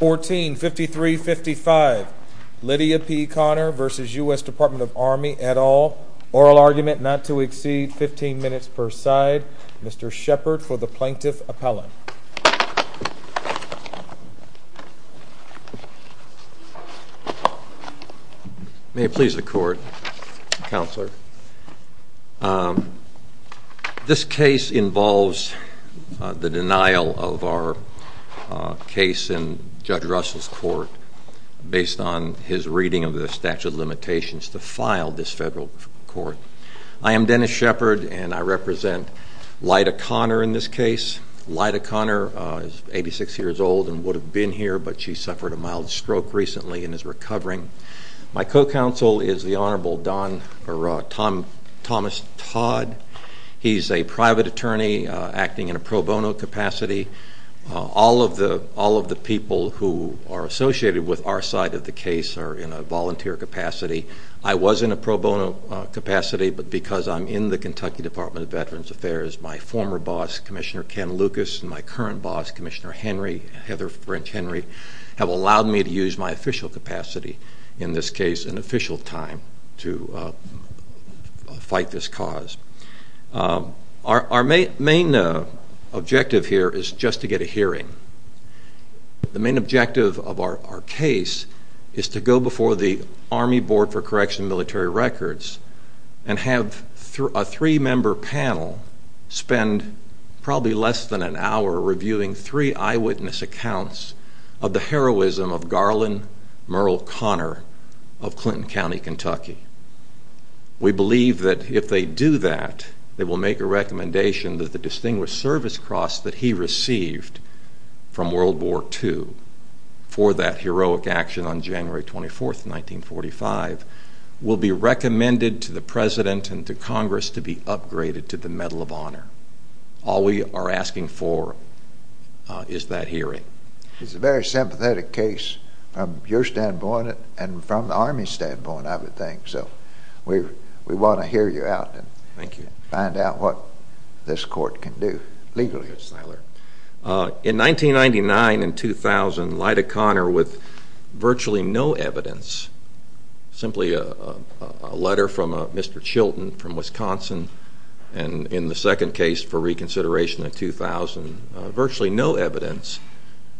1453-55 Lydia P. Conner v. US Dept of the Army et al. Oral argument not to exceed 15 minutes per side. Mr. Shepard for the Plaintiff's Appellant. May it please the Court, Counselor. This case involves the denial of our case in Judge Russell's court based on his reading of the statute of limitations to file this federal court. I am Dennis Shepard and I represent Lyda Conner in this case. Lyda Conner is 86 years old and would have been here, but she suffered a mild stroke recently and is recovering. My co-counsel is the Honorable Thomas Todd. He's a private attorney acting in a pro bono capacity. All of the people who are associated with our side of the case are in a volunteer capacity. I was in a pro bono capacity, but because I'm in the Kentucky Department of Veterans Affairs, my former boss, Commissioner Ken Lucas, and my current boss, Commissioner Heather French Henry, have allowed me to use my official capacity, in this case an official time, to fight this cause. Our main objective here is just to get a hearing. The main objective of our case is to go before the Army Board for Correctional Military Records and have a three-member panel spend probably less than an hour reviewing three eyewitness accounts of the heroism of Garland Murrell Conner of Clinton County, Kentucky. We believe that if they do that, they will make a recommendation that the Distinguished Service Cross that he received from World War II for that heroic action on January 24, 1945, will be recommended to the President and to Congress to be upgraded to the Medal of Honor. All we are asking for is that hearing. It's a very sympathetic case from your standpoint and from the Army's standpoint, I would think, so we want to hear you out and find out what this court can do legally. In 1999 and 2000, Lyda Conner, with virtually no evidence, simply a letter from Mr. Chilton from Wisconsin, and in the second case for reconsideration in 2000, virtually no evidence,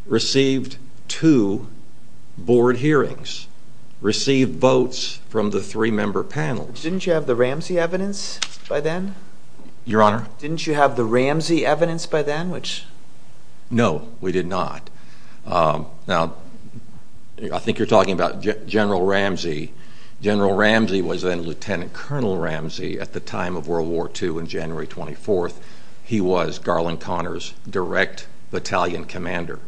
received two board hearings, received votes from the three-member panel. Didn't you have the Ramsey evidence by then? Your Honor? Didn't you have the Ramsey evidence by then? No, we did not. Now, I think you're talking about General Ramsey. General Ramsey was then Lieutenant Colonel Ramsey at the time of World War II on January 24. He was Garland Conner's direct battalion commander.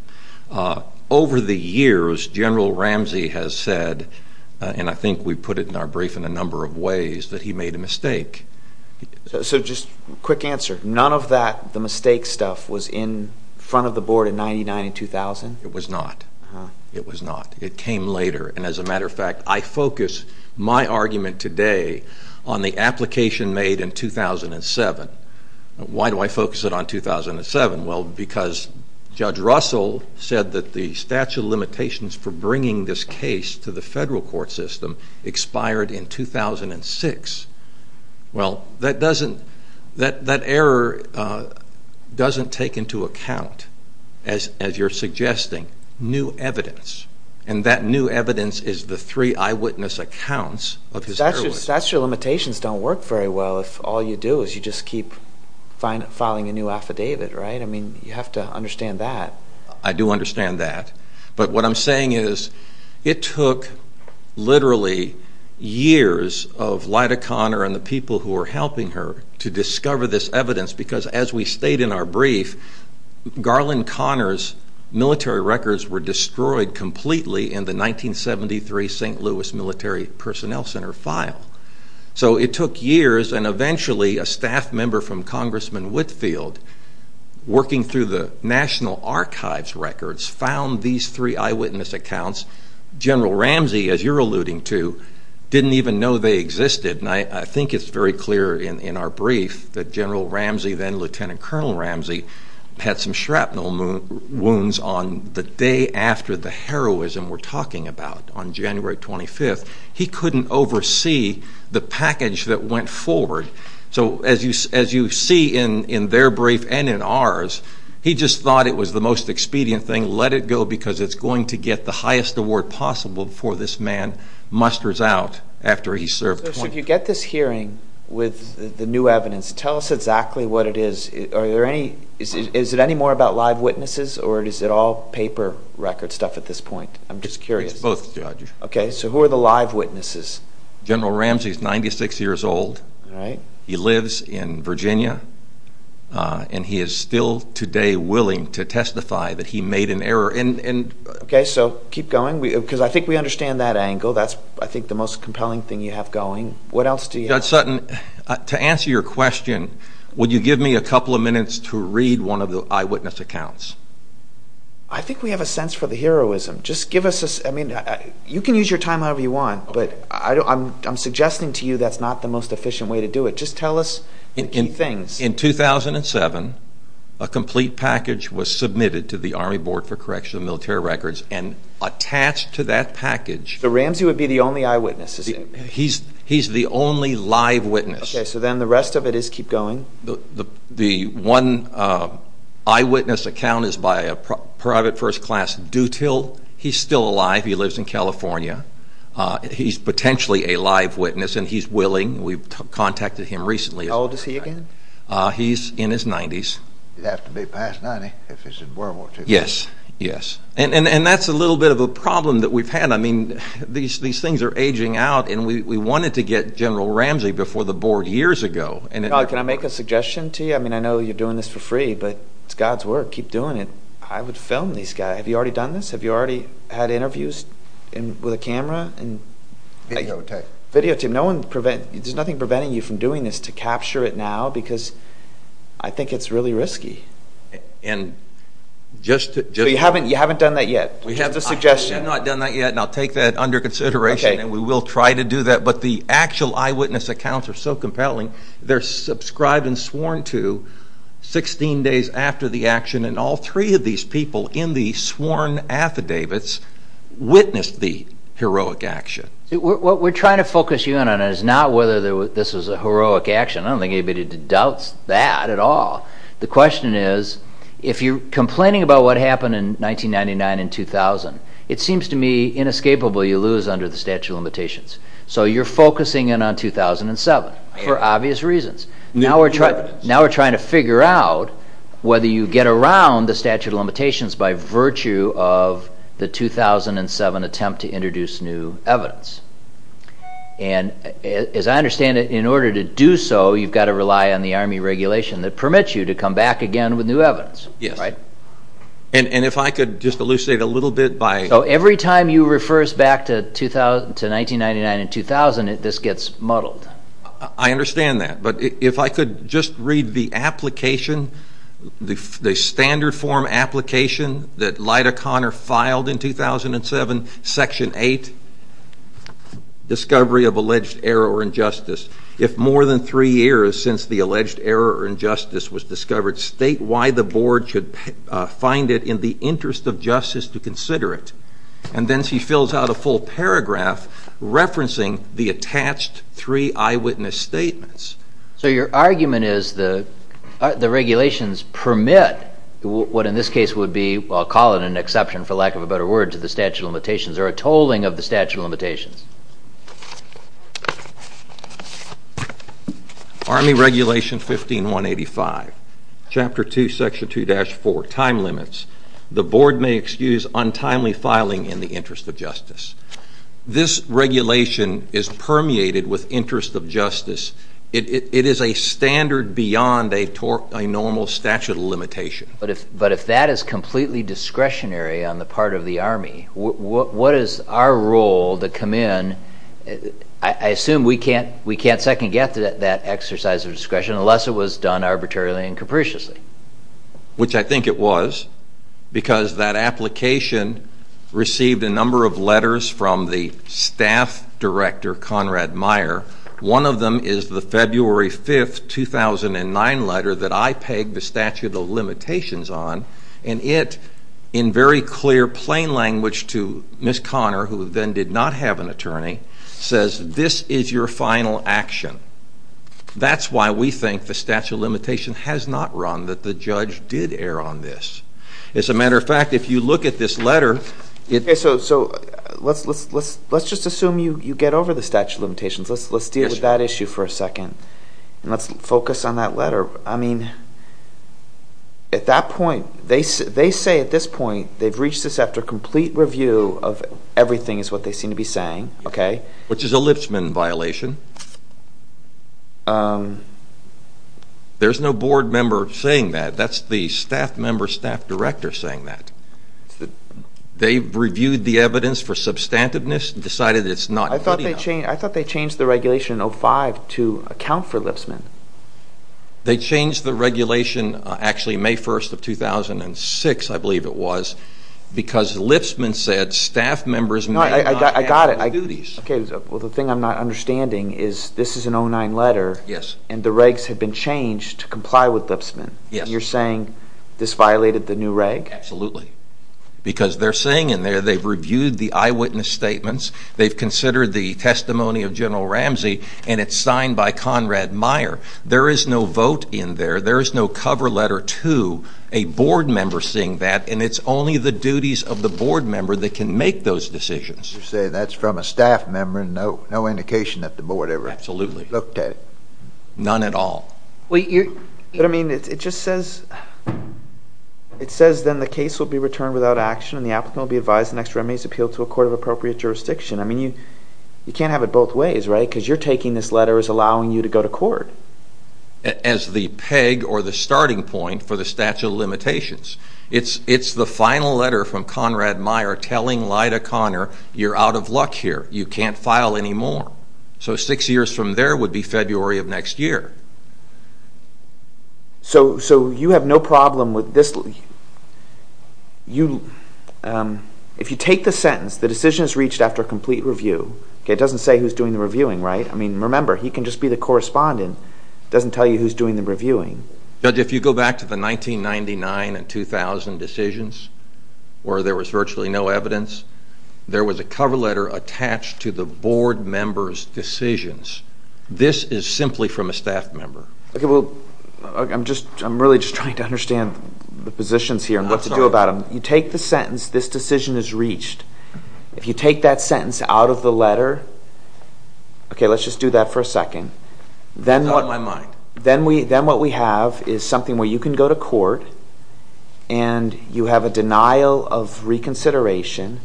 Over the years, General Ramsey has said, and I think we put it in our brief in a number of ways, that he made a mistake. So just a quick answer. None of that, the mistake stuff, was in front of the board in 1999 and 2000? It was not. It was not. It came later, and as a matter of fact, I focus my argument today on the application made in 2007. Why do I focus it on 2007? Well, because Judge Russell said that the statute of limitations for bringing this case to the federal court system expired in 2006. Well, that error doesn't take into account, as you're suggesting, new evidence, and that new evidence is the three eyewitness accounts of his error. But those statute of limitations don't work very well if all you do is you just keep filing a new affidavit, right? I mean, you have to understand that. I do understand that, but what I'm saying is it took literally years of Lyda Conner and the people who were helping her to discover this evidence, because as we state in our brief, Garland Conner's military records were destroyed completely in the 1973 St. Louis Military Personnel Center file. So it took years, and eventually a staff member from Congressman Whitfield, working through the National Archives records, found these three eyewitness accounts. General Ramsey, as you're alluding to, didn't even know they existed, and I think it's very clear in our brief that General Ramsey, then Lieutenant Colonel Ramsey, had some shrapnel wounds on the day after the heroism we're talking about, on January 25th. He couldn't oversee the package that went forward. So as you see in their brief and in ours, he just thought it was the most expedient thing, let it go because it's going to get the highest award possible before this man musters out after he served 20 years. So if you get this hearing with the new evidence, tell us exactly what it is. Is it any more about live witnesses, or is it all paper record stuff at this point? I'm just curious. It's both, Judge. Okay, so who are the live witnesses? General Ramsey's 96 years old. He lives in Virginia, and he is still today willing to testify that he made an error. Okay, so keep going, because I think we understand that angle. That's, I think, the most compelling thing you have going. What else do you have? Judge Sutton, to answer your question, would you give me a couple of minutes to read one of the eyewitness accounts? I think we have a sense for the heroism. You can use your time however you want, but I'm suggesting to you that's not the most efficient way to do it. Just tell us the key things. In 2007, a complete package was submitted to the Army Board for Correctional and Military Records, and attached to that package... So Ramsey would be the only eyewitness, is he? He's the only live witness. Okay, so then the rest of it is keep going. The one eyewitness account is by a private first class dutil. He's still alive. He lives in California. He's potentially a live witness, and he's willing. We've contacted him recently. How old is he again? He's in his 90s. He'd have to be past 90 if he's in World War II. Yes, yes. And that's a little bit of a problem that we've had. I mean, these things are aging out, and we wanted to get General Ramsey before the board years ago. Can I make a suggestion to you? I mean, I know you're doing this for free, but it's God's work. Keep doing it. I would film these guys. Have you already done this? Have you already had interviews with a camera? Video tape. Video tape. There's nothing preventing you from doing this to capture it now, because I think it's really risky. And just to... You haven't done that yet. Just a suggestion. I have not done that yet, and I'll take that under consideration. Okay. And we will try to do that, but the actual eyewitness accounts are so compelling. They're subscribed and sworn to 16 days after the action, and all three of these people in the sworn affidavits witnessed the heroic action. What we're trying to focus you in on is not whether this was a heroic action. I don't think anybody doubts that at all. The question is, if you're complaining about what happened in 1999 and 2000, it seems to me inescapably you lose under the statute of limitations. And as I understand it, in order to do so, you've got to rely on the Army regulation that permits you to come back again with new evidence. Yes. Right? And if I could just elucidate a little bit by... So every time you refer us back to 1999 and 2000, this gets muddled. I understand that, but if I could just read the application, the standard form application that Lyda Conner filed in 2007, Section 8, Discovery of Alleged Error or Injustice. If more than three years since the alleged error or injustice was discovered, state why the board should find it in the interest of justice to consider it. And then she fills out a full paragraph referencing the attached three eyewitness statements. So your argument is the regulations permit what in this case would be, I'll call it an exception for lack of a better word, to the statute of limitations or a tolling of the statute of limitations. Army Regulation 15185, Chapter 2, Section 2-4, Time Limits. The board may excuse untimely filing in the interest of justice. This regulation is permeated with interest of justice. It is a standard beyond a normal statute of limitation. But if that is completely discretionary on the part of the Army, what is our role to come in? I assume we can't second-guess that exercise of discretion unless it was done arbitrarily and capriciously. Which I think it was, because that application received a number of letters from the staff director, Conrad Meyer. One of them is the February 5, 2009 letter that I pegged the statute of limitations on. And it, in very clear, plain language to Ms. Connor, who then did not have an attorney, says, this is your final action. That's why we think the statute of limitation has not run, that the judge did err on this. As a matter of fact, if you look at this letter... Okay, so let's just assume you get over the statute of limitations. Let's deal with that issue for a second. And let's focus on that letter. I mean, at that point, they say at this point, they've reached this after complete review of everything is what they seem to be saying, okay? Which is a Lipsman violation. There's no board member saying that. That's the staff member, staff director saying that. They've reviewed the evidence for substantiveness and decided it's not good enough. I thought they changed the regulation in 2005 to account for Lipsman. They changed the regulation, actually, May 1, 2006, I believe it was, because Lipsman said staff members may not... I got it. Well, the thing I'm not understanding is this is an 09 letter, and the regs have been changed to comply with Lipsman. You're saying this violated the new reg? Absolutely. Because they're saying in there they've reviewed the eyewitness statements, they've considered the testimony of General Ramsey, and it's signed by Conrad Meyer. There is no vote in there. There is no cover letter to a board member saying that, and it's only the duties of the board member that can make those decisions. You're saying that's from a staff member, no indication that the board ever looked at it. None at all. But, I mean, it just says then the case will be returned without action, and the applicant will be advised the next remedy is appealed to a court of appropriate jurisdiction. I mean, you can't have it both ways, right? Because you're taking this letter as allowing you to go to court. As the peg or the starting point for the statute of limitations. It's the final letter from Conrad Meyer telling Lyda Conner, you're out of luck here, you can't file anymore. So six years from there would be February of next year. So you have no problem with this? If you take the sentence, the decision is reached after a complete review, it doesn't say who's doing the reviewing, right? I mean, remember, he can just be the correspondent, it doesn't tell you who's doing the reviewing. Judge, if you go back to the 1999 and 2000 decisions, where there was virtually no evidence, there was a cover letter attached to the board member's decisions. This is simply from a staff member. Okay, well, I'm really just trying to understand the positions here and what to do about them. You take the sentence, this decision is reached. If you take that sentence out of the letter, okay, let's just do that for a second. Not in my mind. Then what we have is something where you can go to court and you have a denial of reconsideration.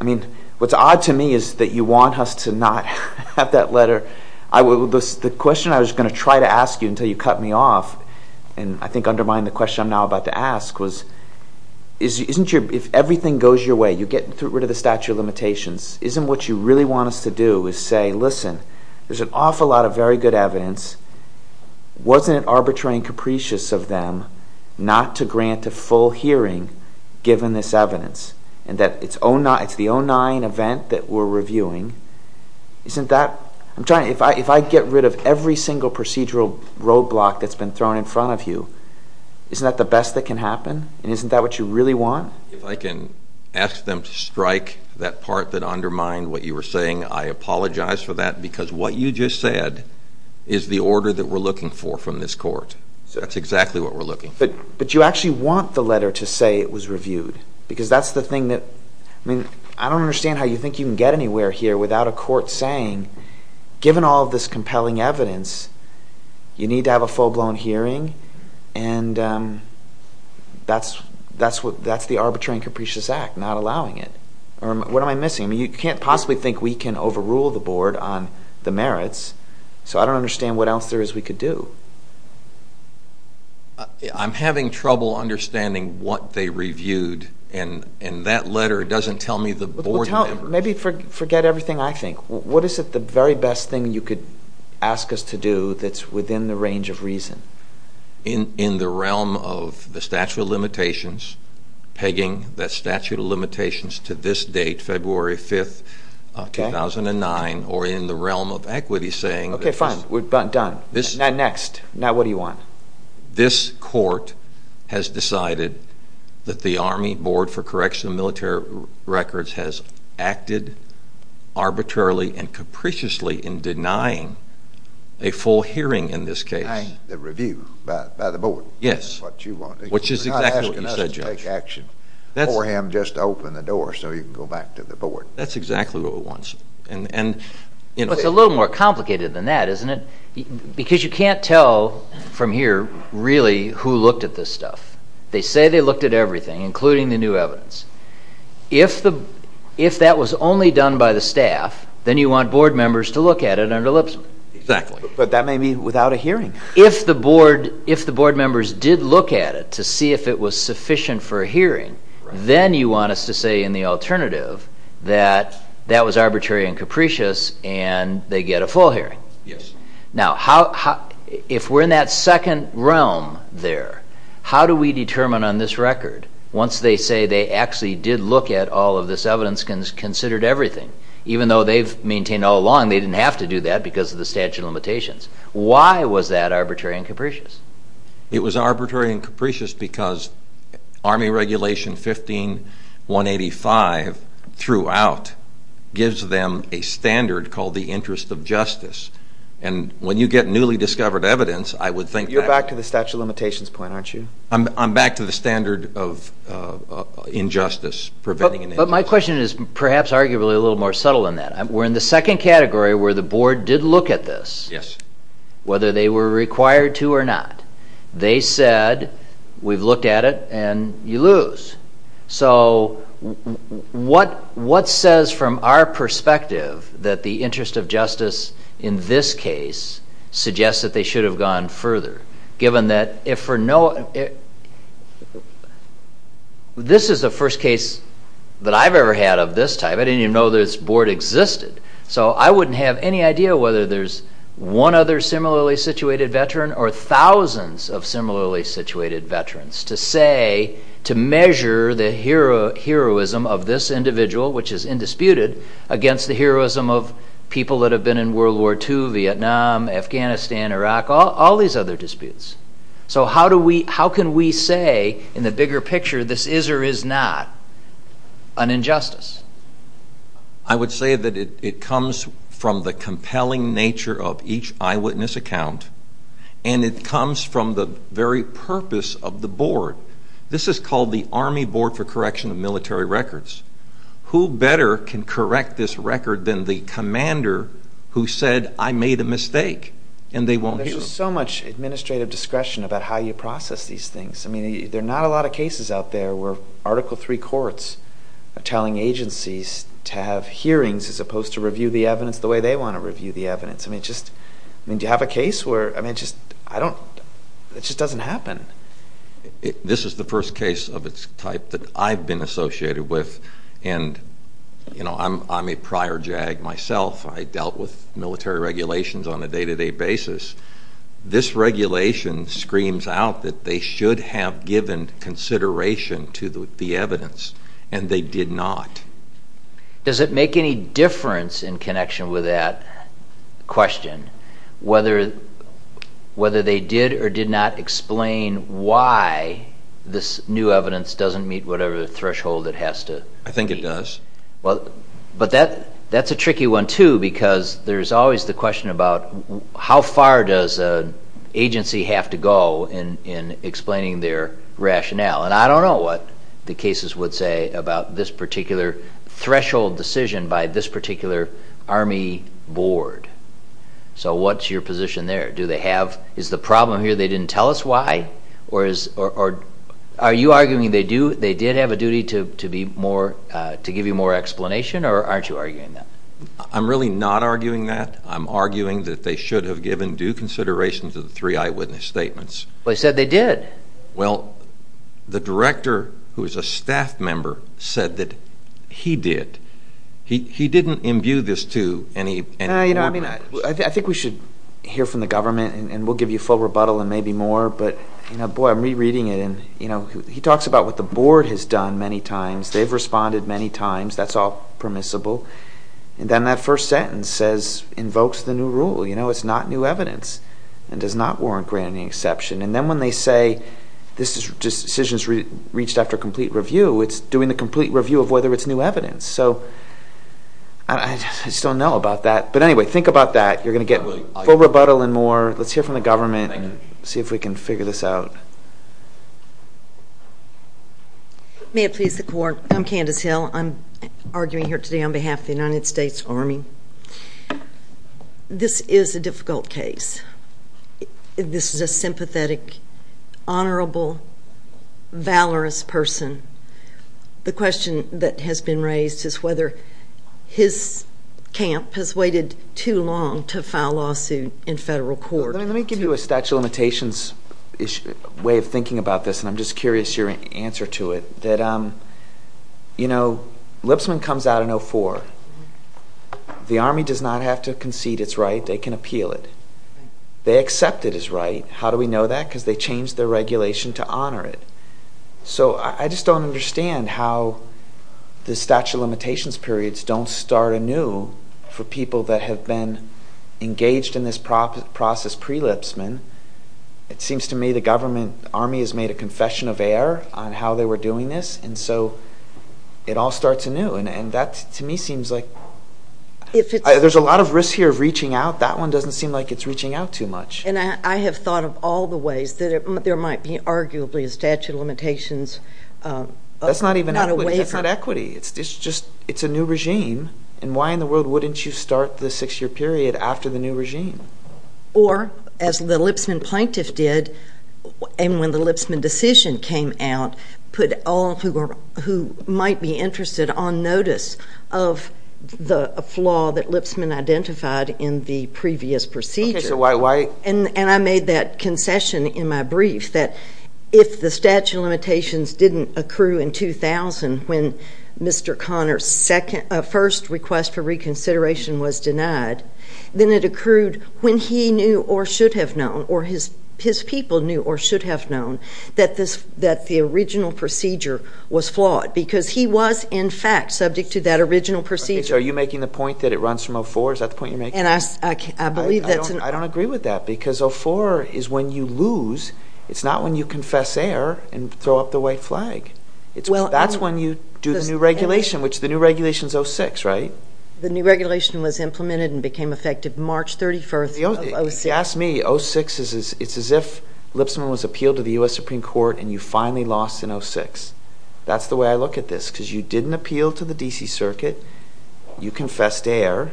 I mean, what's odd to me is that you want us to not have that letter. The question I was going to try to ask you until you cut me off and I think undermine the question I'm now about to ask was, if everything goes your way, you get rid of the statute of limitations, isn't what you really want us to do is say, listen, there's an awful lot of very good evidence. Wasn't it arbitrary and capricious of them not to grant a full hearing given this evidence? It's the 09 event that we're reviewing. If I get rid of every single procedural roadblock that's been thrown in front of you, isn't that the best that can happen? Isn't that what you really want? If I can ask them to strike that part that undermined what you were saying, I apologize for that because what you just said is the order that we're looking for from this court. That's exactly what we're looking for. But you actually want the letter to say it was reviewed because that's the thing that – I mean, I don't understand how you think you can get anywhere here without a court saying, given all of this compelling evidence, you need to have a full-blown hearing and that's the arbitrary and capricious act, not allowing it. What am I missing? I mean, you can't possibly think we can overrule the board on the merits, so I don't understand what else there is we could do. I'm having trouble understanding what they reviewed, and that letter doesn't tell me the board members. Maybe forget everything I think. What is it, the very best thing you could ask us to do that's within the range of reason? In the realm of the statute of limitations, pegging that statute of limitations to this date, February 5th, 2009, or in the realm of equity saying – Okay, fine. We're done. Next. Now what do you want? This court has decided that the Army Board for Correctional and Military Records has acted arbitrarily and capriciously in denying a full hearing in this case. Denying the review by the board. Yes. That's what you want. Which is exactly what you said, Judge. You're not asking us to take action for him just to open the door so he can go back to the board. That's exactly what we want. But it's a little more complicated than that, isn't it? Because you can't tell from here really who looked at this stuff. They say they looked at everything, including the new evidence. If that was only done by the staff, then you want board members to look at it under lip service. Exactly. But that may be without a hearing. If the board members did look at it to see if it was sufficient for a hearing, then you want us to say in the alternative that that was arbitrary and capricious and they get a full hearing. Yes. Now, if we're in that second realm there, how do we determine on this record, once they say they actually did look at all of this evidence, considered everything, even though they've maintained all along they didn't have to do that because of the statute of limitations, why was that arbitrary and capricious? It was arbitrary and capricious because Army Regulation 15-185 throughout gives them a standard called the interest of justice. And when you get newly discovered evidence, I would think that's... You're back to the statute of limitations point, aren't you? I'm back to the standard of injustice, preventing an injustice. But my question is perhaps arguably a little more subtle than that. We're in the second category where the board did look at this, whether they were required to or not. They said, we've looked at it and you lose. So what says from our perspective that the interest of justice in this case suggests that they should have gone further, given that if for no... This is the first case that I've ever had of this type. I didn't even know this board existed. So I wouldn't have any idea whether there's one other similarly situated veteran or thousands of similarly situated veterans to say... To measure the heroism of this individual, which is indisputed, against the heroism of people that have been in World War II, Vietnam, Afghanistan, Iraq, all these other disputes. So how can we say in the bigger picture this is or is not an injustice? I would say that it comes from the compelling nature of each eyewitness account. And it comes from the very purpose of the board. This is called the Army Board for Correction of Military Records. Who better can correct this record than the commander who said, I made a mistake? There's so much administrative discretion about how you process these things. I mean, there are not a lot of cases out there where Article III courts are telling agencies to have hearings as opposed to review the evidence the way they want to review the evidence. I mean, just... I mean, do you have a case where... I mean, just... I don't... It just doesn't happen. This is the first case of its type that I've been associated with. And, you know, I'm a prior JAG myself. I dealt with military regulations on a day-to-day basis. This regulation screams out that they should have given consideration to the evidence, and they did not. Does it make any difference in connection with that question whether they did or did not explain why this new evidence doesn't meet whatever threshold it has to meet? I think it does. But that's a tricky one, too, because there's always the question about how far does an agency have to go in explaining their rationale. And I don't know what the cases would say about this particular threshold decision by this particular Army board. So what's your position there? Do they have... Is the problem here they didn't tell us why? Are you arguing they did have a duty to give you more explanation, or aren't you arguing that? I'm really not arguing that. I'm arguing that they should have given due consideration to the three eyewitness statements. But they said they did. Well, the director, who is a staff member, said that he did. He didn't imbue this to any... I think we should hear from the government, and we'll give you full rebuttal and maybe more. But, boy, I'm rereading it, and he talks about what the board has done many times. They've responded many times. That's all permissible. And then that first sentence invokes the new rule. It's not new evidence and does not warrant granting exception. And then when they say this decision is reached after complete review, it's doing the complete review of whether it's new evidence. So I just don't know about that. But, anyway, think about that. You're going to get full rebuttal and more. Let's hear from the government and see if we can figure this out. May it please the Court, I'm Candace Hill. I'm arguing here today on behalf of the United States Army. This is a difficult case. This is a sympathetic, honorable, valorous person. The question that has been raised is whether his camp has waited too long to file a lawsuit in federal court. Let me give you a statute of limitations way of thinking about this, and I'm just curious your answer to it. Lipsman comes out in 04. The Army does not have to concede it's right. They can appeal it. They accept it as right. How do we know that? Because they changed their regulation to honor it. So I just don't understand how the statute of limitations periods don't start anew for people that have been engaged in this process pre-Lipsman. It seems to me the Army has made a confession of error on how they were doing this, and so it all starts anew, and that, to me, seems like there's a lot of risk here of reaching out. That one doesn't seem like it's reaching out too much. And I have thought of all the ways that there might be arguably a statute of limitations. That's not even equity. It's not equity. It's a new regime, and why in the world wouldn't you start the six-year period after the new regime? Or, as the Lipsman plaintiff did, and when the Lipsman decision came out, put all who might be interested on notice of the flaw that Lipsman identified in the previous procedure. And I made that concession in my brief that if the statute of limitations didn't accrue in 2000 when Mr. Connor's first request for reconsideration was denied, then it accrued when he knew or should have known or his people knew or should have known that the original procedure was flawed because he was, in fact, subject to that original procedure. So are you making the point that it runs from 04? Is that the point you're making? I don't agree with that because 04 is when you lose. It's not when you confess error and throw up the white flag. That's when you do the new regulation, which the new regulation is 06, right? The new regulation was implemented and became effective March 31st of 06. If you ask me, 06 is as if Lipsman was appealed to the U.S. Supreme Court and you finally lost in 06. That's the way I look at this because you didn't appeal to the D.C. Circuit. You confessed error.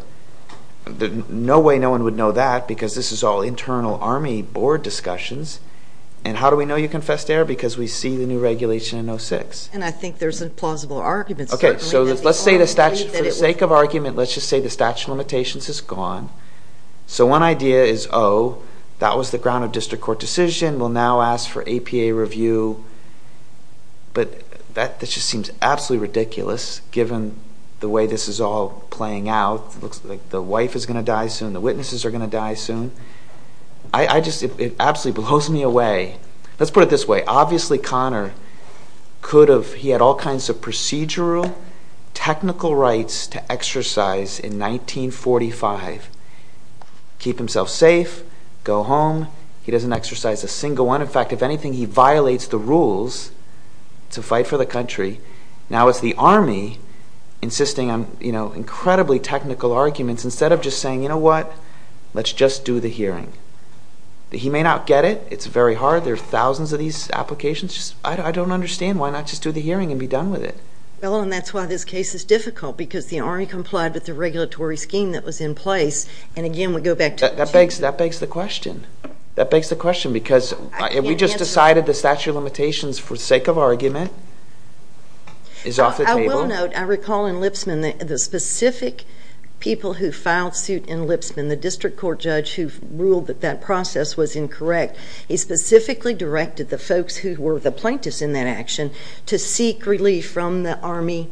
No way no one would know that because this is all internal Army board discussions. And how do we know you confessed error? Because we see the new regulation in 06. And I think there's a plausible argument. Okay. So let's say the statute, for the sake of argument, let's just say the statute of limitations is gone. So one idea is, oh, that was the ground of district court decision. We'll now ask for APA review. But that just seems absolutely ridiculous given the way this is all playing out. It looks like the wife is going to die soon. The witnesses are going to die soon. I just, it absolutely blows me away. Let's put it this way. Obviously, Connor could have, he had all kinds of procedural technical rights to exercise in 1945. Keep himself safe. Go home. He doesn't exercise a single one. In fact, if anything, he violates the rules to fight for the country. Now it's the Army insisting on, you know, incredibly technical arguments instead of just saying, you know what, let's just do the hearing. He may not get it. It's very hard. There are thousands of these applications. I don't understand. Why not just do the hearing and be done with it? Well, and that's why this case is difficult because the Army complied with the regulatory scheme that was in place. And, again, we go back to the two. That begs the question. That begs the question because we just decided the statute of limitations for the sake of argument is off the table. I will note, I recall in Lipsman, the specific people who filed suit in Lipsman, the district court judge who ruled that that process was incorrect, he specifically directed the folks who were the plaintiffs in that action to seek relief from the Army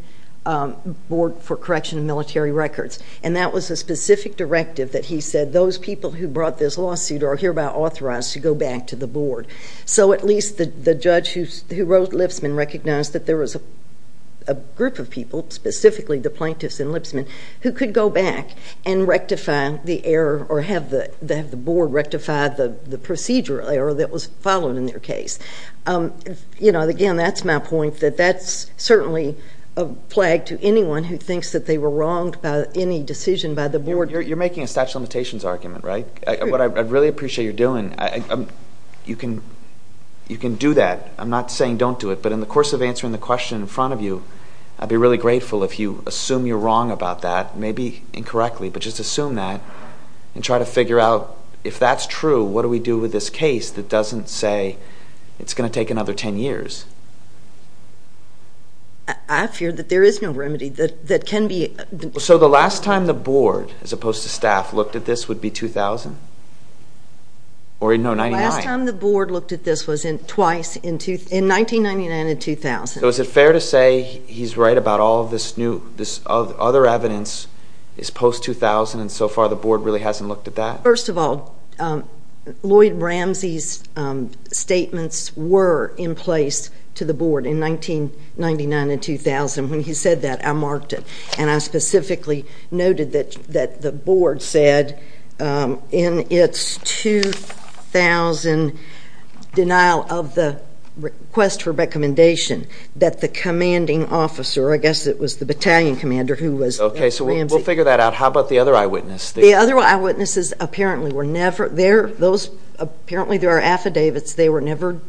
Board for Correction of Military Records. And that was a specific directive that he said those people who brought this lawsuit are hereby authorized to go back to the board. So at least the judge who wrote Lipsman recognized that there was a group of people, specifically the plaintiffs in Lipsman, who could go back and rectify the error or have the board rectify the procedure error that was followed in their case. You know, again, that's my point, that that's certainly a flag to anyone who thinks that they were wronged by any decision by the board. You're making a statute of limitations argument, right? I really appreciate what you're doing. You can do that. I'm not saying don't do it. But in the course of answering the question in front of you, I'd be really grateful if you assume you're wrong about that, maybe incorrectly, but just assume that and try to figure out if that's true, what do we do with this case that doesn't say it's going to take another 10 years? I fear that there is no remedy that can be... So the last time the board, as opposed to staff, looked at this would be 2000? Or no, 1999? The last time the board looked at this was twice, in 1999 and 2000. So is it fair to say he's right about all of this other evidence is post-2000 and so far the board really hasn't looked at that? First of all, Lloyd Ramsey's statements were in place to the board in 1999 and 2000. When he said that, I marked it, and I specifically noted that the board said in its 2000 denial of the request for recommendation that the commanding officer, I guess it was the battalion commander who was Ramsey. Okay, so we'll figure that out. How about the other eyewitness? The other eyewitnesses apparently there are affidavits. They were never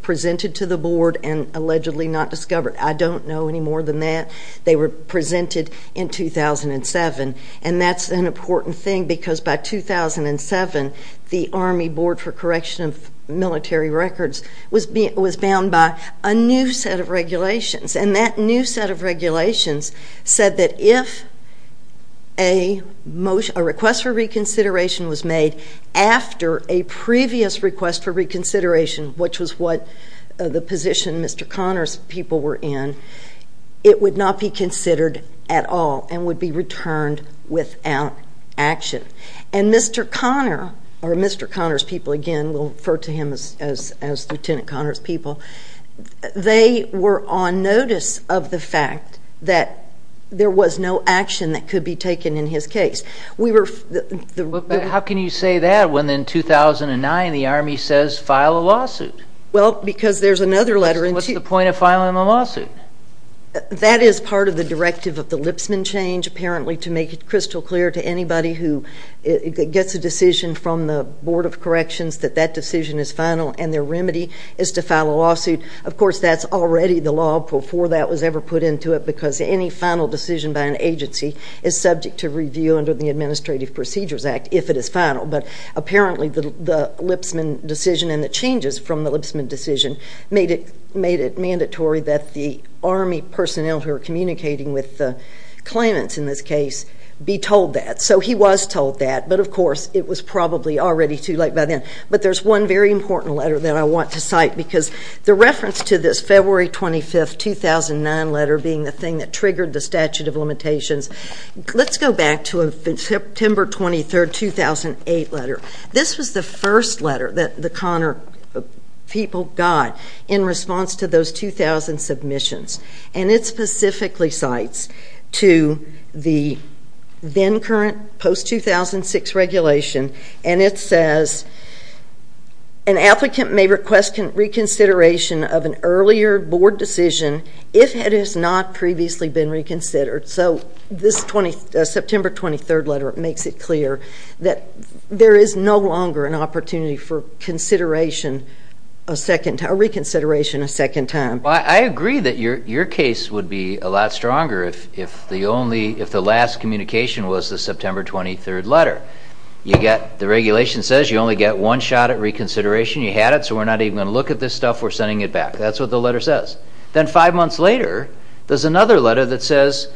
presented to the board and allegedly not discovered. I don't know any more than that. They were presented in 2007, and that's an important thing because by 2007 the Army Board for Correction of Military Records was bound by a new set of regulations, and that new set of regulations said that if a request for reconsideration was made after a previous request for reconsideration, which was what the position Mr. Conner's people were in, it would not be considered at all and would be returned without action. And Mr. Conner, or Mr. Conner's people again, we'll refer to him as Lieutenant Conner's people, they were on notice of the fact that there was no action that could be taken in his case. How can you say that when in 2009 the Army says file a lawsuit? Well, because there's another letter. What's the point of filing a lawsuit? That is part of the directive of the Lipsman change, apparently to make it crystal clear to anybody who gets a decision from the Board of Corrections that that decision is final and their remedy is to file a lawsuit. Of course, that's already the law before that was ever put into it because any final decision by an agency is subject to review under the Administrative Procedures Act if it is final. But apparently the Lipsman decision and the changes from the Lipsman decision made it mandatory that the Army personnel who are communicating with the claimants in this case be told that. So he was told that, but of course it was probably already too late by then. But there's one very important letter that I want to cite because the reference to this February 25, 2009 letter being the thing that triggered the statute of limitations, let's go back to a September 23, 2008 letter. This was the first letter that the Conner people got in response to those 2000 submissions. And it specifically cites to the then current post-2006 regulation, and it says an applicant may request reconsideration of an earlier board decision if it has not previously been reconsidered. So this September 23 letter makes it clear that there is no longer an opportunity for reconsideration a second time. I agree that your case would be a lot stronger if the last communication was the September 23 letter. The regulation says you only get one shot at reconsideration. You had it, so we're not even going to look at this stuff. We're sending it back. That's what the letter says. Then five months later, there's another letter that says,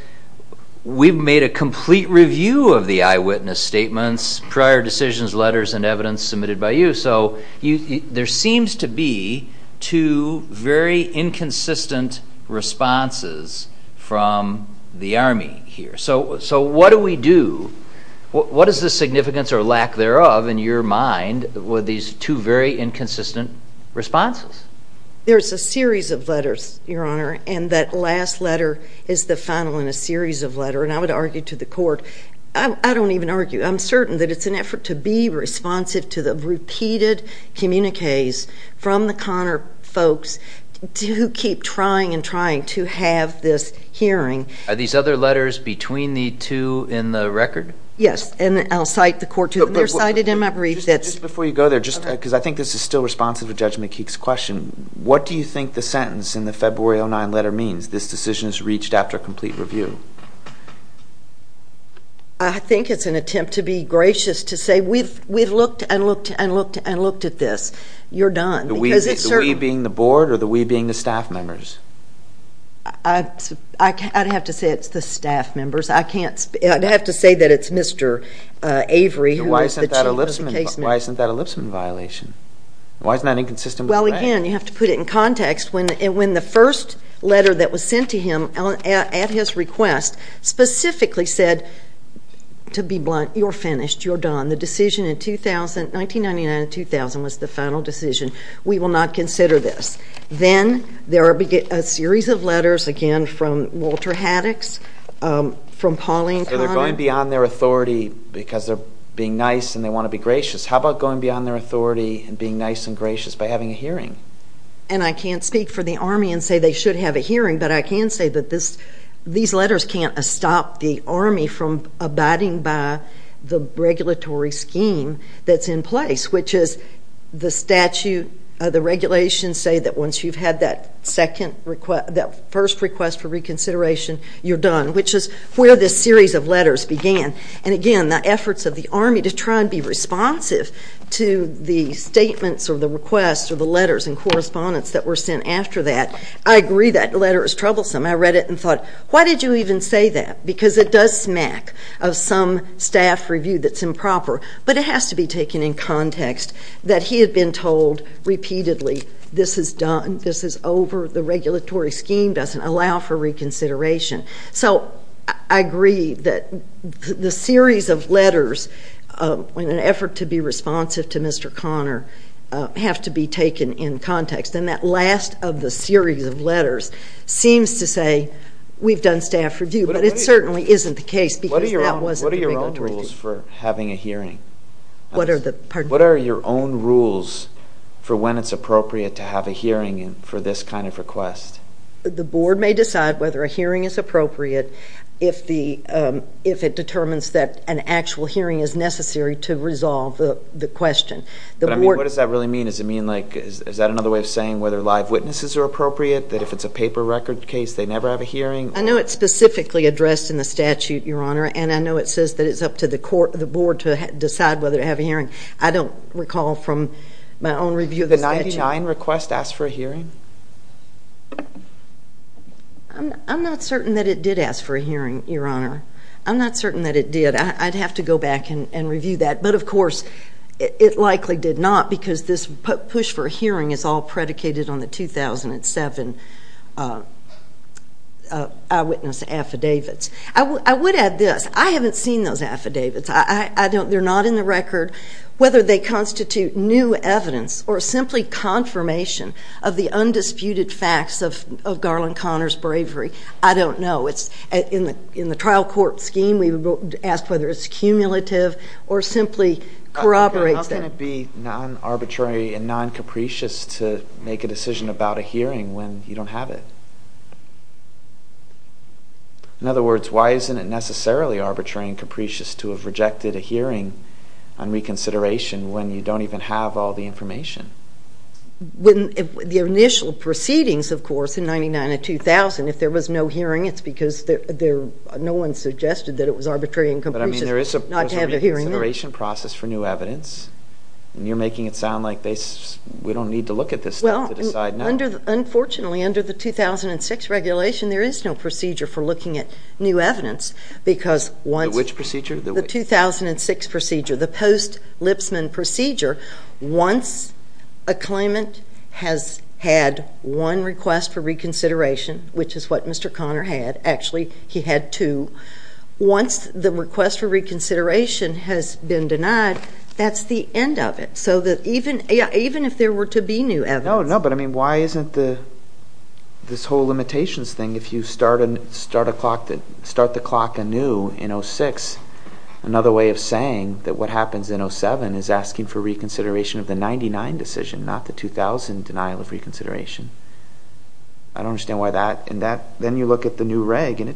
we've made a complete review of the eyewitness statements, prior decisions, letters, and evidence submitted by you. So there seems to be two very inconsistent responses from the Army here. So what do we do? What is the significance or lack thereof in your mind with these two very inconsistent responses? There's a series of letters, Your Honor, and that last letter is the final in a series of letters. And I would argue to the court, I don't even argue. I'm certain that it's an effort to be responsive to the repeated communiques from the Connor folks who keep trying and trying to have this hearing. Are these other letters between the two in the record? Yes, and I'll cite the court to them. They're cited in my brief. Just before you go there, because I think this is still responsive to Judge McKeek's question, what do you think the sentence in the February 09 letter means, this decision is reached after a complete review? I think it's an attempt to be gracious to say we've looked and looked and looked and looked at this. You're done. The we being the board or the we being the staff members? I'd have to say it's the staff members. I'd have to say that it's Mr. Avery who was the chief of the case. Why isn't that an ellipsesman violation? Why isn't that inconsistent with the fact? Well, again, you have to put it in context. When the first letter that was sent to him at his request specifically said, to be blunt, you're finished, you're done, the decision in 1999 and 2000 was the final decision, we will not consider this. Then there are a series of letters, again, from Walter Haddix, from Pauline Connor. So they're going beyond their authority because they're being nice and they want to be gracious. How about going beyond their authority and being nice and gracious by having a hearing? And I can't speak for the Army and say they should have a hearing, but I can say that these letters can't stop the Army from abiding by the regulatory scheme that's in place, which is the statute, the regulations say that once you've had that first request for reconsideration, you're done, which is where this series of letters began. And again, the efforts of the Army to try and be responsive to the statements or the requests or the letters and correspondence that were sent after that, I agree that letter is troublesome. I read it and thought, why did you even say that? Because it does smack of some staff review that's improper, but it has to be taken in context that he had been told repeatedly, this is done, this is over, the regulatory scheme doesn't allow for reconsideration. So I agree that the series of letters in an effort to be responsive to Mr. Conner have to be taken in context. And that last of the series of letters seems to say we've done staff review, but it certainly isn't the case because that wasn't the regulatory scheme. What are your own rules for having a hearing? What are the, pardon me? What are your own rules for when it's appropriate to have a hearing for this kind of request? The board may decide whether a hearing is appropriate if it determines that an actual hearing is necessary to resolve the question. But I mean, what does that really mean? Does it mean like, is that another way of saying whether live witnesses are appropriate? That if it's a paper record case, they never have a hearing? I know it's specifically addressed in the statute, Your Honor, and I know it says that it's up to the board to decide whether to have a hearing. I don't recall from my own review of the statute. Did the Dine request ask for a hearing? I'm not certain that it did ask for a hearing, Your Honor. I'm not certain that it did. I'd have to go back and review that. But, of course, it likely did not because this push for a hearing is all predicated on the 2007 eyewitness affidavits. I would add this. I haven't seen those affidavits. They're not in the record. Whether they constitute new evidence or simply confirmation of the undisputed facts of Garland Conner's bravery, I don't know. In the trial court scheme, we've asked whether it's cumulative or simply corroborates that. How can it be non-arbitrary and non-capricious to make a decision about a hearing when you don't have it? In other words, why isn't it necessarily arbitrary and capricious to have rejected a hearing on reconsideration when you don't even have all the information? The initial proceedings, of course, in 1999 and 2000, if there was no hearing, it's because no one suggested that it was arbitrary and capricious not to have a hearing. But, I mean, there is a reconsideration process for new evidence, and you're making it sound like we don't need to look at this stuff to decide now. Unfortunately, under the 2006 regulation, there is no procedure for looking at new evidence. The which procedure? The 2006 procedure, the post-Lipsman procedure. Once a claimant has had one request for reconsideration, which is what Mr. Conner had, actually he had two, once the request for reconsideration has been denied, that's the end of it. Even if there were to be new evidence. No, but, I mean, why isn't this whole limitations thing, if you start the clock anew in 2006, another way of saying that what happens in 2007 is asking for reconsideration of the 1999 decision, not the 2000 denial of reconsideration. I don't understand why that, and then you look at the new reg, and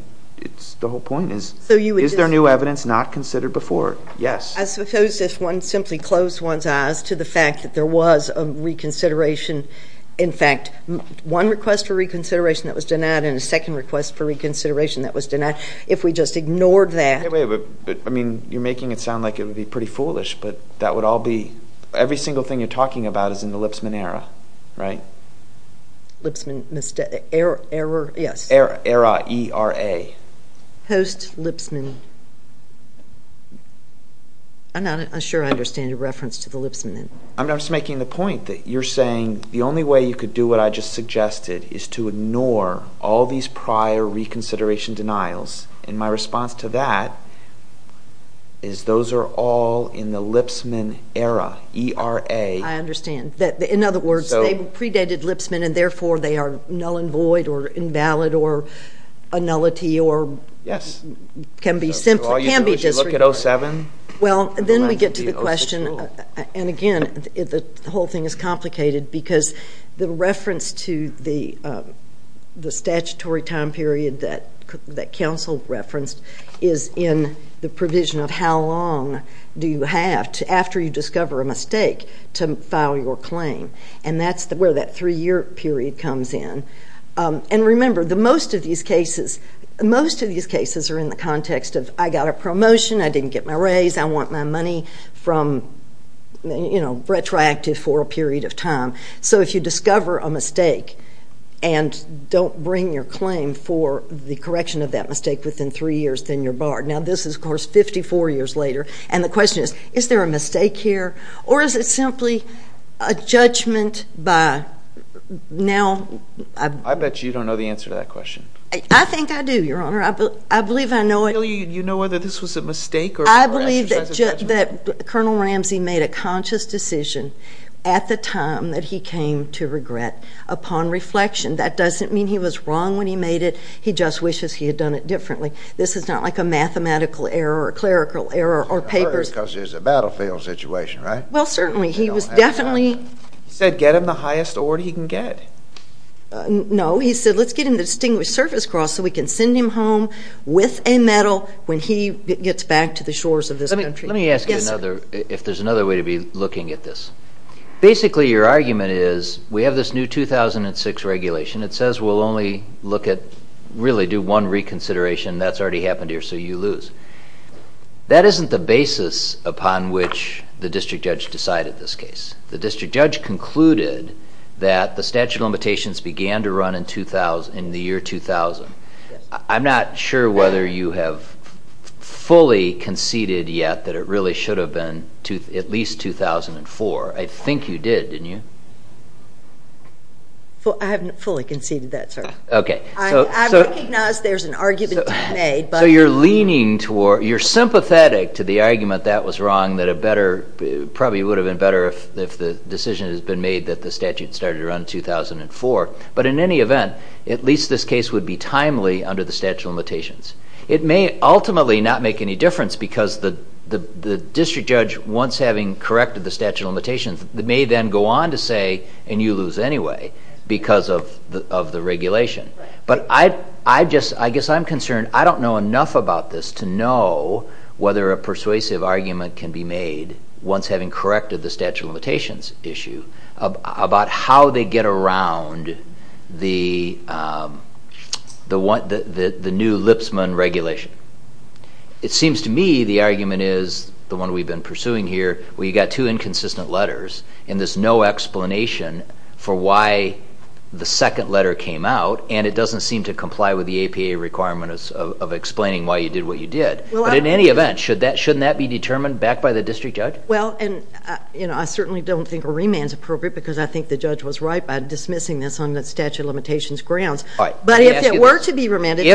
the whole point is, is there new evidence not considered before? Yes. I suppose if one simply closed one's eyes to the fact that there was a reconsideration, in fact, one request for reconsideration that was denied, and a second request for reconsideration that was denied, if we just ignored that. But, I mean, you're making it sound like it would be pretty foolish, but that would all be, every single thing you're talking about is in the Lipsman era, right? Lipsman era, yes. Era, E-R-A. Post-Lipsman. I'm not sure I understand your reference to the Lipsman. I'm just making the point that you're saying the only way you could do what I just suggested is to ignore all these prior reconsideration denials, and my response to that is those are all in the Lipsman era, E-R-A. I understand. In other words, they predated Lipsman, and, therefore, they are null and void or invalid or a nullity or can be disregarded. Well, then we get to the question, and, again, the whole thing is complicated because the reference to the statutory time period that counsel referenced is in the provision of how long do you have after you discover a mistake to file your claim, and that's where that three-year period comes in. And, remember, most of these cases are in the context of I got a promotion, I didn't get my raise, I want my money from, you know, retroactive for a period of time. So if you discover a mistake and don't bring your claim for the correction of that mistake within three years, then you're barred. Now, this is, of course, 54 years later, and the question is, is there a mistake here or is it simply a judgment by now? I bet you don't know the answer to that question. I think I do, Your Honor. I believe I know it. Do you know whether this was a mistake or exercise of judgment? I believe that Colonel Ramsey made a conscious decision at the time that he came to regret upon reflection. That doesn't mean he was wrong when he made it. He just wishes he had done it differently. This is not like a mathematical error or a clerical error or papers. Because there's a battlefield situation, right? Well, certainly. He was definitely. He said get him the highest award he can get. No, he said let's get him the Distinguished Service Cross so we can send him home with a medal when he gets back to the shores of this country. Let me ask you another, if there's another way to be looking at this. Basically, your argument is we have this new 2006 regulation. It says we'll only look at, really do one reconsideration. That's already happened here, so you lose. That isn't the basis upon which the district judge decided this case. The district judge concluded that the statute of limitations began to run in the year 2000. I'm not sure whether you have fully conceded yet that it really should have been at least 2004. I think you did, didn't you? I haven't fully conceded that, sir. Okay. I recognize there's an argument to be made. So you're leaning toward, you're sympathetic to the argument that was wrong, that it probably would have been better if the decision had been made that the statute started to run in 2004. But in any event, at least this case would be timely under the statute of limitations. It may ultimately not make any difference because the district judge, once having corrected the statute of limitations, may then go on to say, and you lose anyway because of the regulation. But I guess I'm concerned. I don't know enough about this to know whether a persuasive argument can be made, once having corrected the statute of limitations issue, about how they get around the new Lipsman regulation. It seems to me the argument is the one we've been pursuing here, where you've got two inconsistent letters, and there's no explanation for why the second letter came out, and it doesn't seem to comply with the APA requirements of explaining why you did what you did. But in any event, shouldn't that be determined back by the district judge? Well, and I certainly don't think a remand is appropriate because I think the judge was right by dismissing this on the statute of limitations grounds. But if it were to be remanded.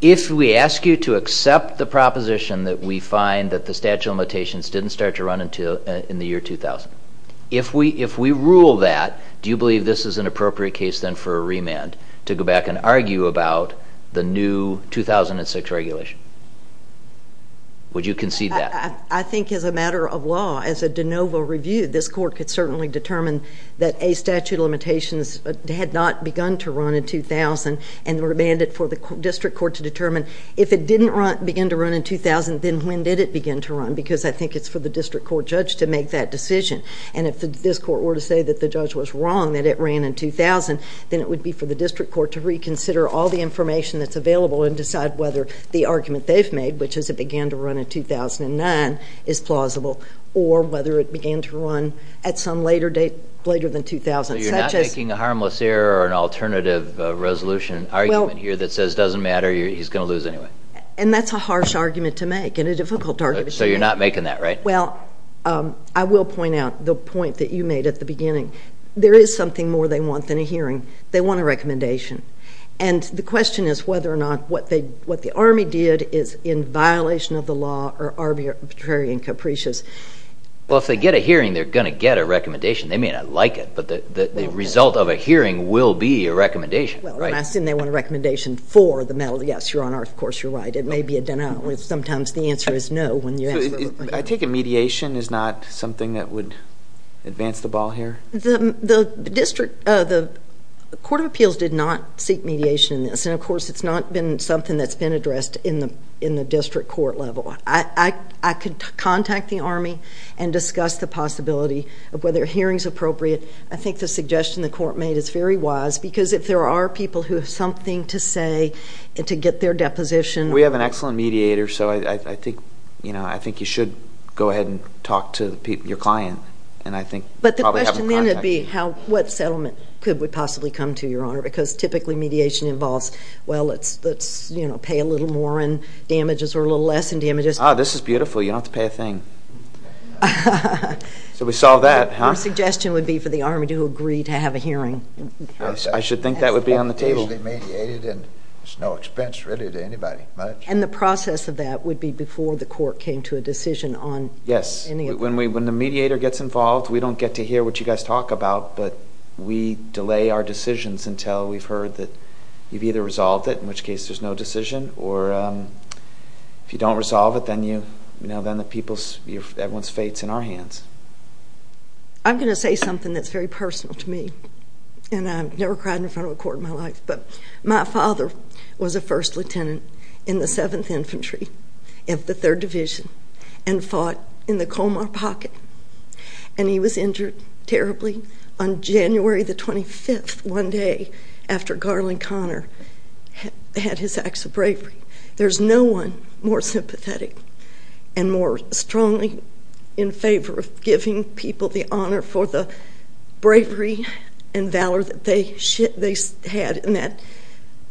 If we ask you to accept the proposition that we find that the statute of limitations didn't start to run in the year 2000, if we rule that, do you believe this is an appropriate case then for a remand, to go back and argue about the new 2006 regulation? Would you concede that? I think as a matter of law, as a de novo review, this court could certainly determine that a statute of limitations had not begun to run in 2000 and remand it for the district court to determine if it didn't begin to run in 2000, then when did it begin to run? Because I think it's for the district court judge to make that decision. And if this court were to say that the judge was wrong, that it ran in 2000, then it would be for the district court to reconsider all the information that's available and decide whether the argument they've made, which is it began to run in 2009, is plausible, or whether it began to run at some later date, later than 2000. So you're not making a harmless error or an alternative resolution argument here that says it doesn't matter, he's going to lose anyway. And that's a harsh argument to make and a difficult argument to make. So you're not making that, right? Well, I will point out the point that you made at the beginning. There is something more they want than a hearing. They want a recommendation. And the question is whether or not what the Army did is in violation of the law or arbitrary and capricious. Well, if they get a hearing, they're going to get a recommendation. They may not like it, but the result of a hearing will be a recommendation. Well, when I say they want a recommendation for the medal, yes, Your Honor, of course you're right. It may be a denial. Sometimes the answer is no. I take it mediation is not something that would advance the ball here? The District Court of Appeals did not seek mediation in this. And, of course, it's not been something that's been addressed in the district court level. I could contact the Army and discuss the possibility of whether a hearing is appropriate. I think the suggestion the court made is very wise because if there are people who have something to say and to get their deposition. We have an excellent mediator, so I think you should go ahead and talk to your client. But the question then would be what settlement would possibly come to, Your Honor, because typically mediation involves, well, let's pay a little more in damages or a little less in damages. Oh, this is beautiful. You don't have to pay a thing. So we solve that, huh? Our suggestion would be for the Army to agree to have a hearing. I should think that would be on the table. Mediated and it's no expense really to anybody. And the process of that would be before the court came to a decision on any of this. Yes. When the mediator gets involved, we don't get to hear what you guys talk about, but we delay our decisions until we've heard that you've either resolved it, in which case there's no decision, or if you don't resolve it, then everyone's fate is in our hands. I'm going to say something that's very personal to me, and I've never cried in front of a court in my life, but my father was a First Lieutenant in the 7th Infantry of the 3rd Division and fought in the Comar Pocket, and he was injured terribly on January the 25th, one day after Garland Conner had his acts of bravery. There's no one more sympathetic and more strongly in favor of giving people the honor for the bravery and valor that they had in that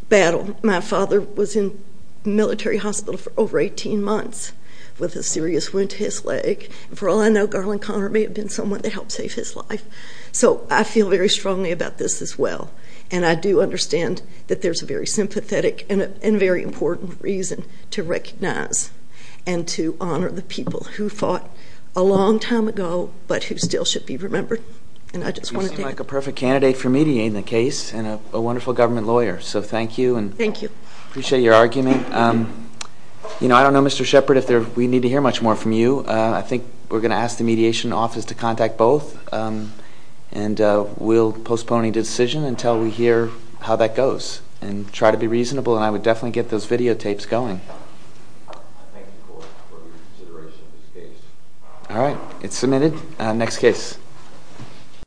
battle. My father was in military hospital for over 18 months with a serious wound to his leg. For all I know, Garland Conner may have been someone that helped save his life. So I feel very strongly about this as well, and I do understand that there's a very sympathetic and a very important reason to recognize and to honor the people who fought a long time ago but who still should be remembered. You seem like a perfect candidate for mediating the case and a wonderful government lawyer, so thank you. Thank you. I appreciate your argument. I don't know, Mr. Shepard, if we need to hear much more from you. I think we're going to ask the mediation office to contact both, and we'll postpone any decision until we hear how that goes and try to be reasonable, and I would definitely get those videotapes going. Thank you for your consideration of this case. All right, it's submitted. Next case.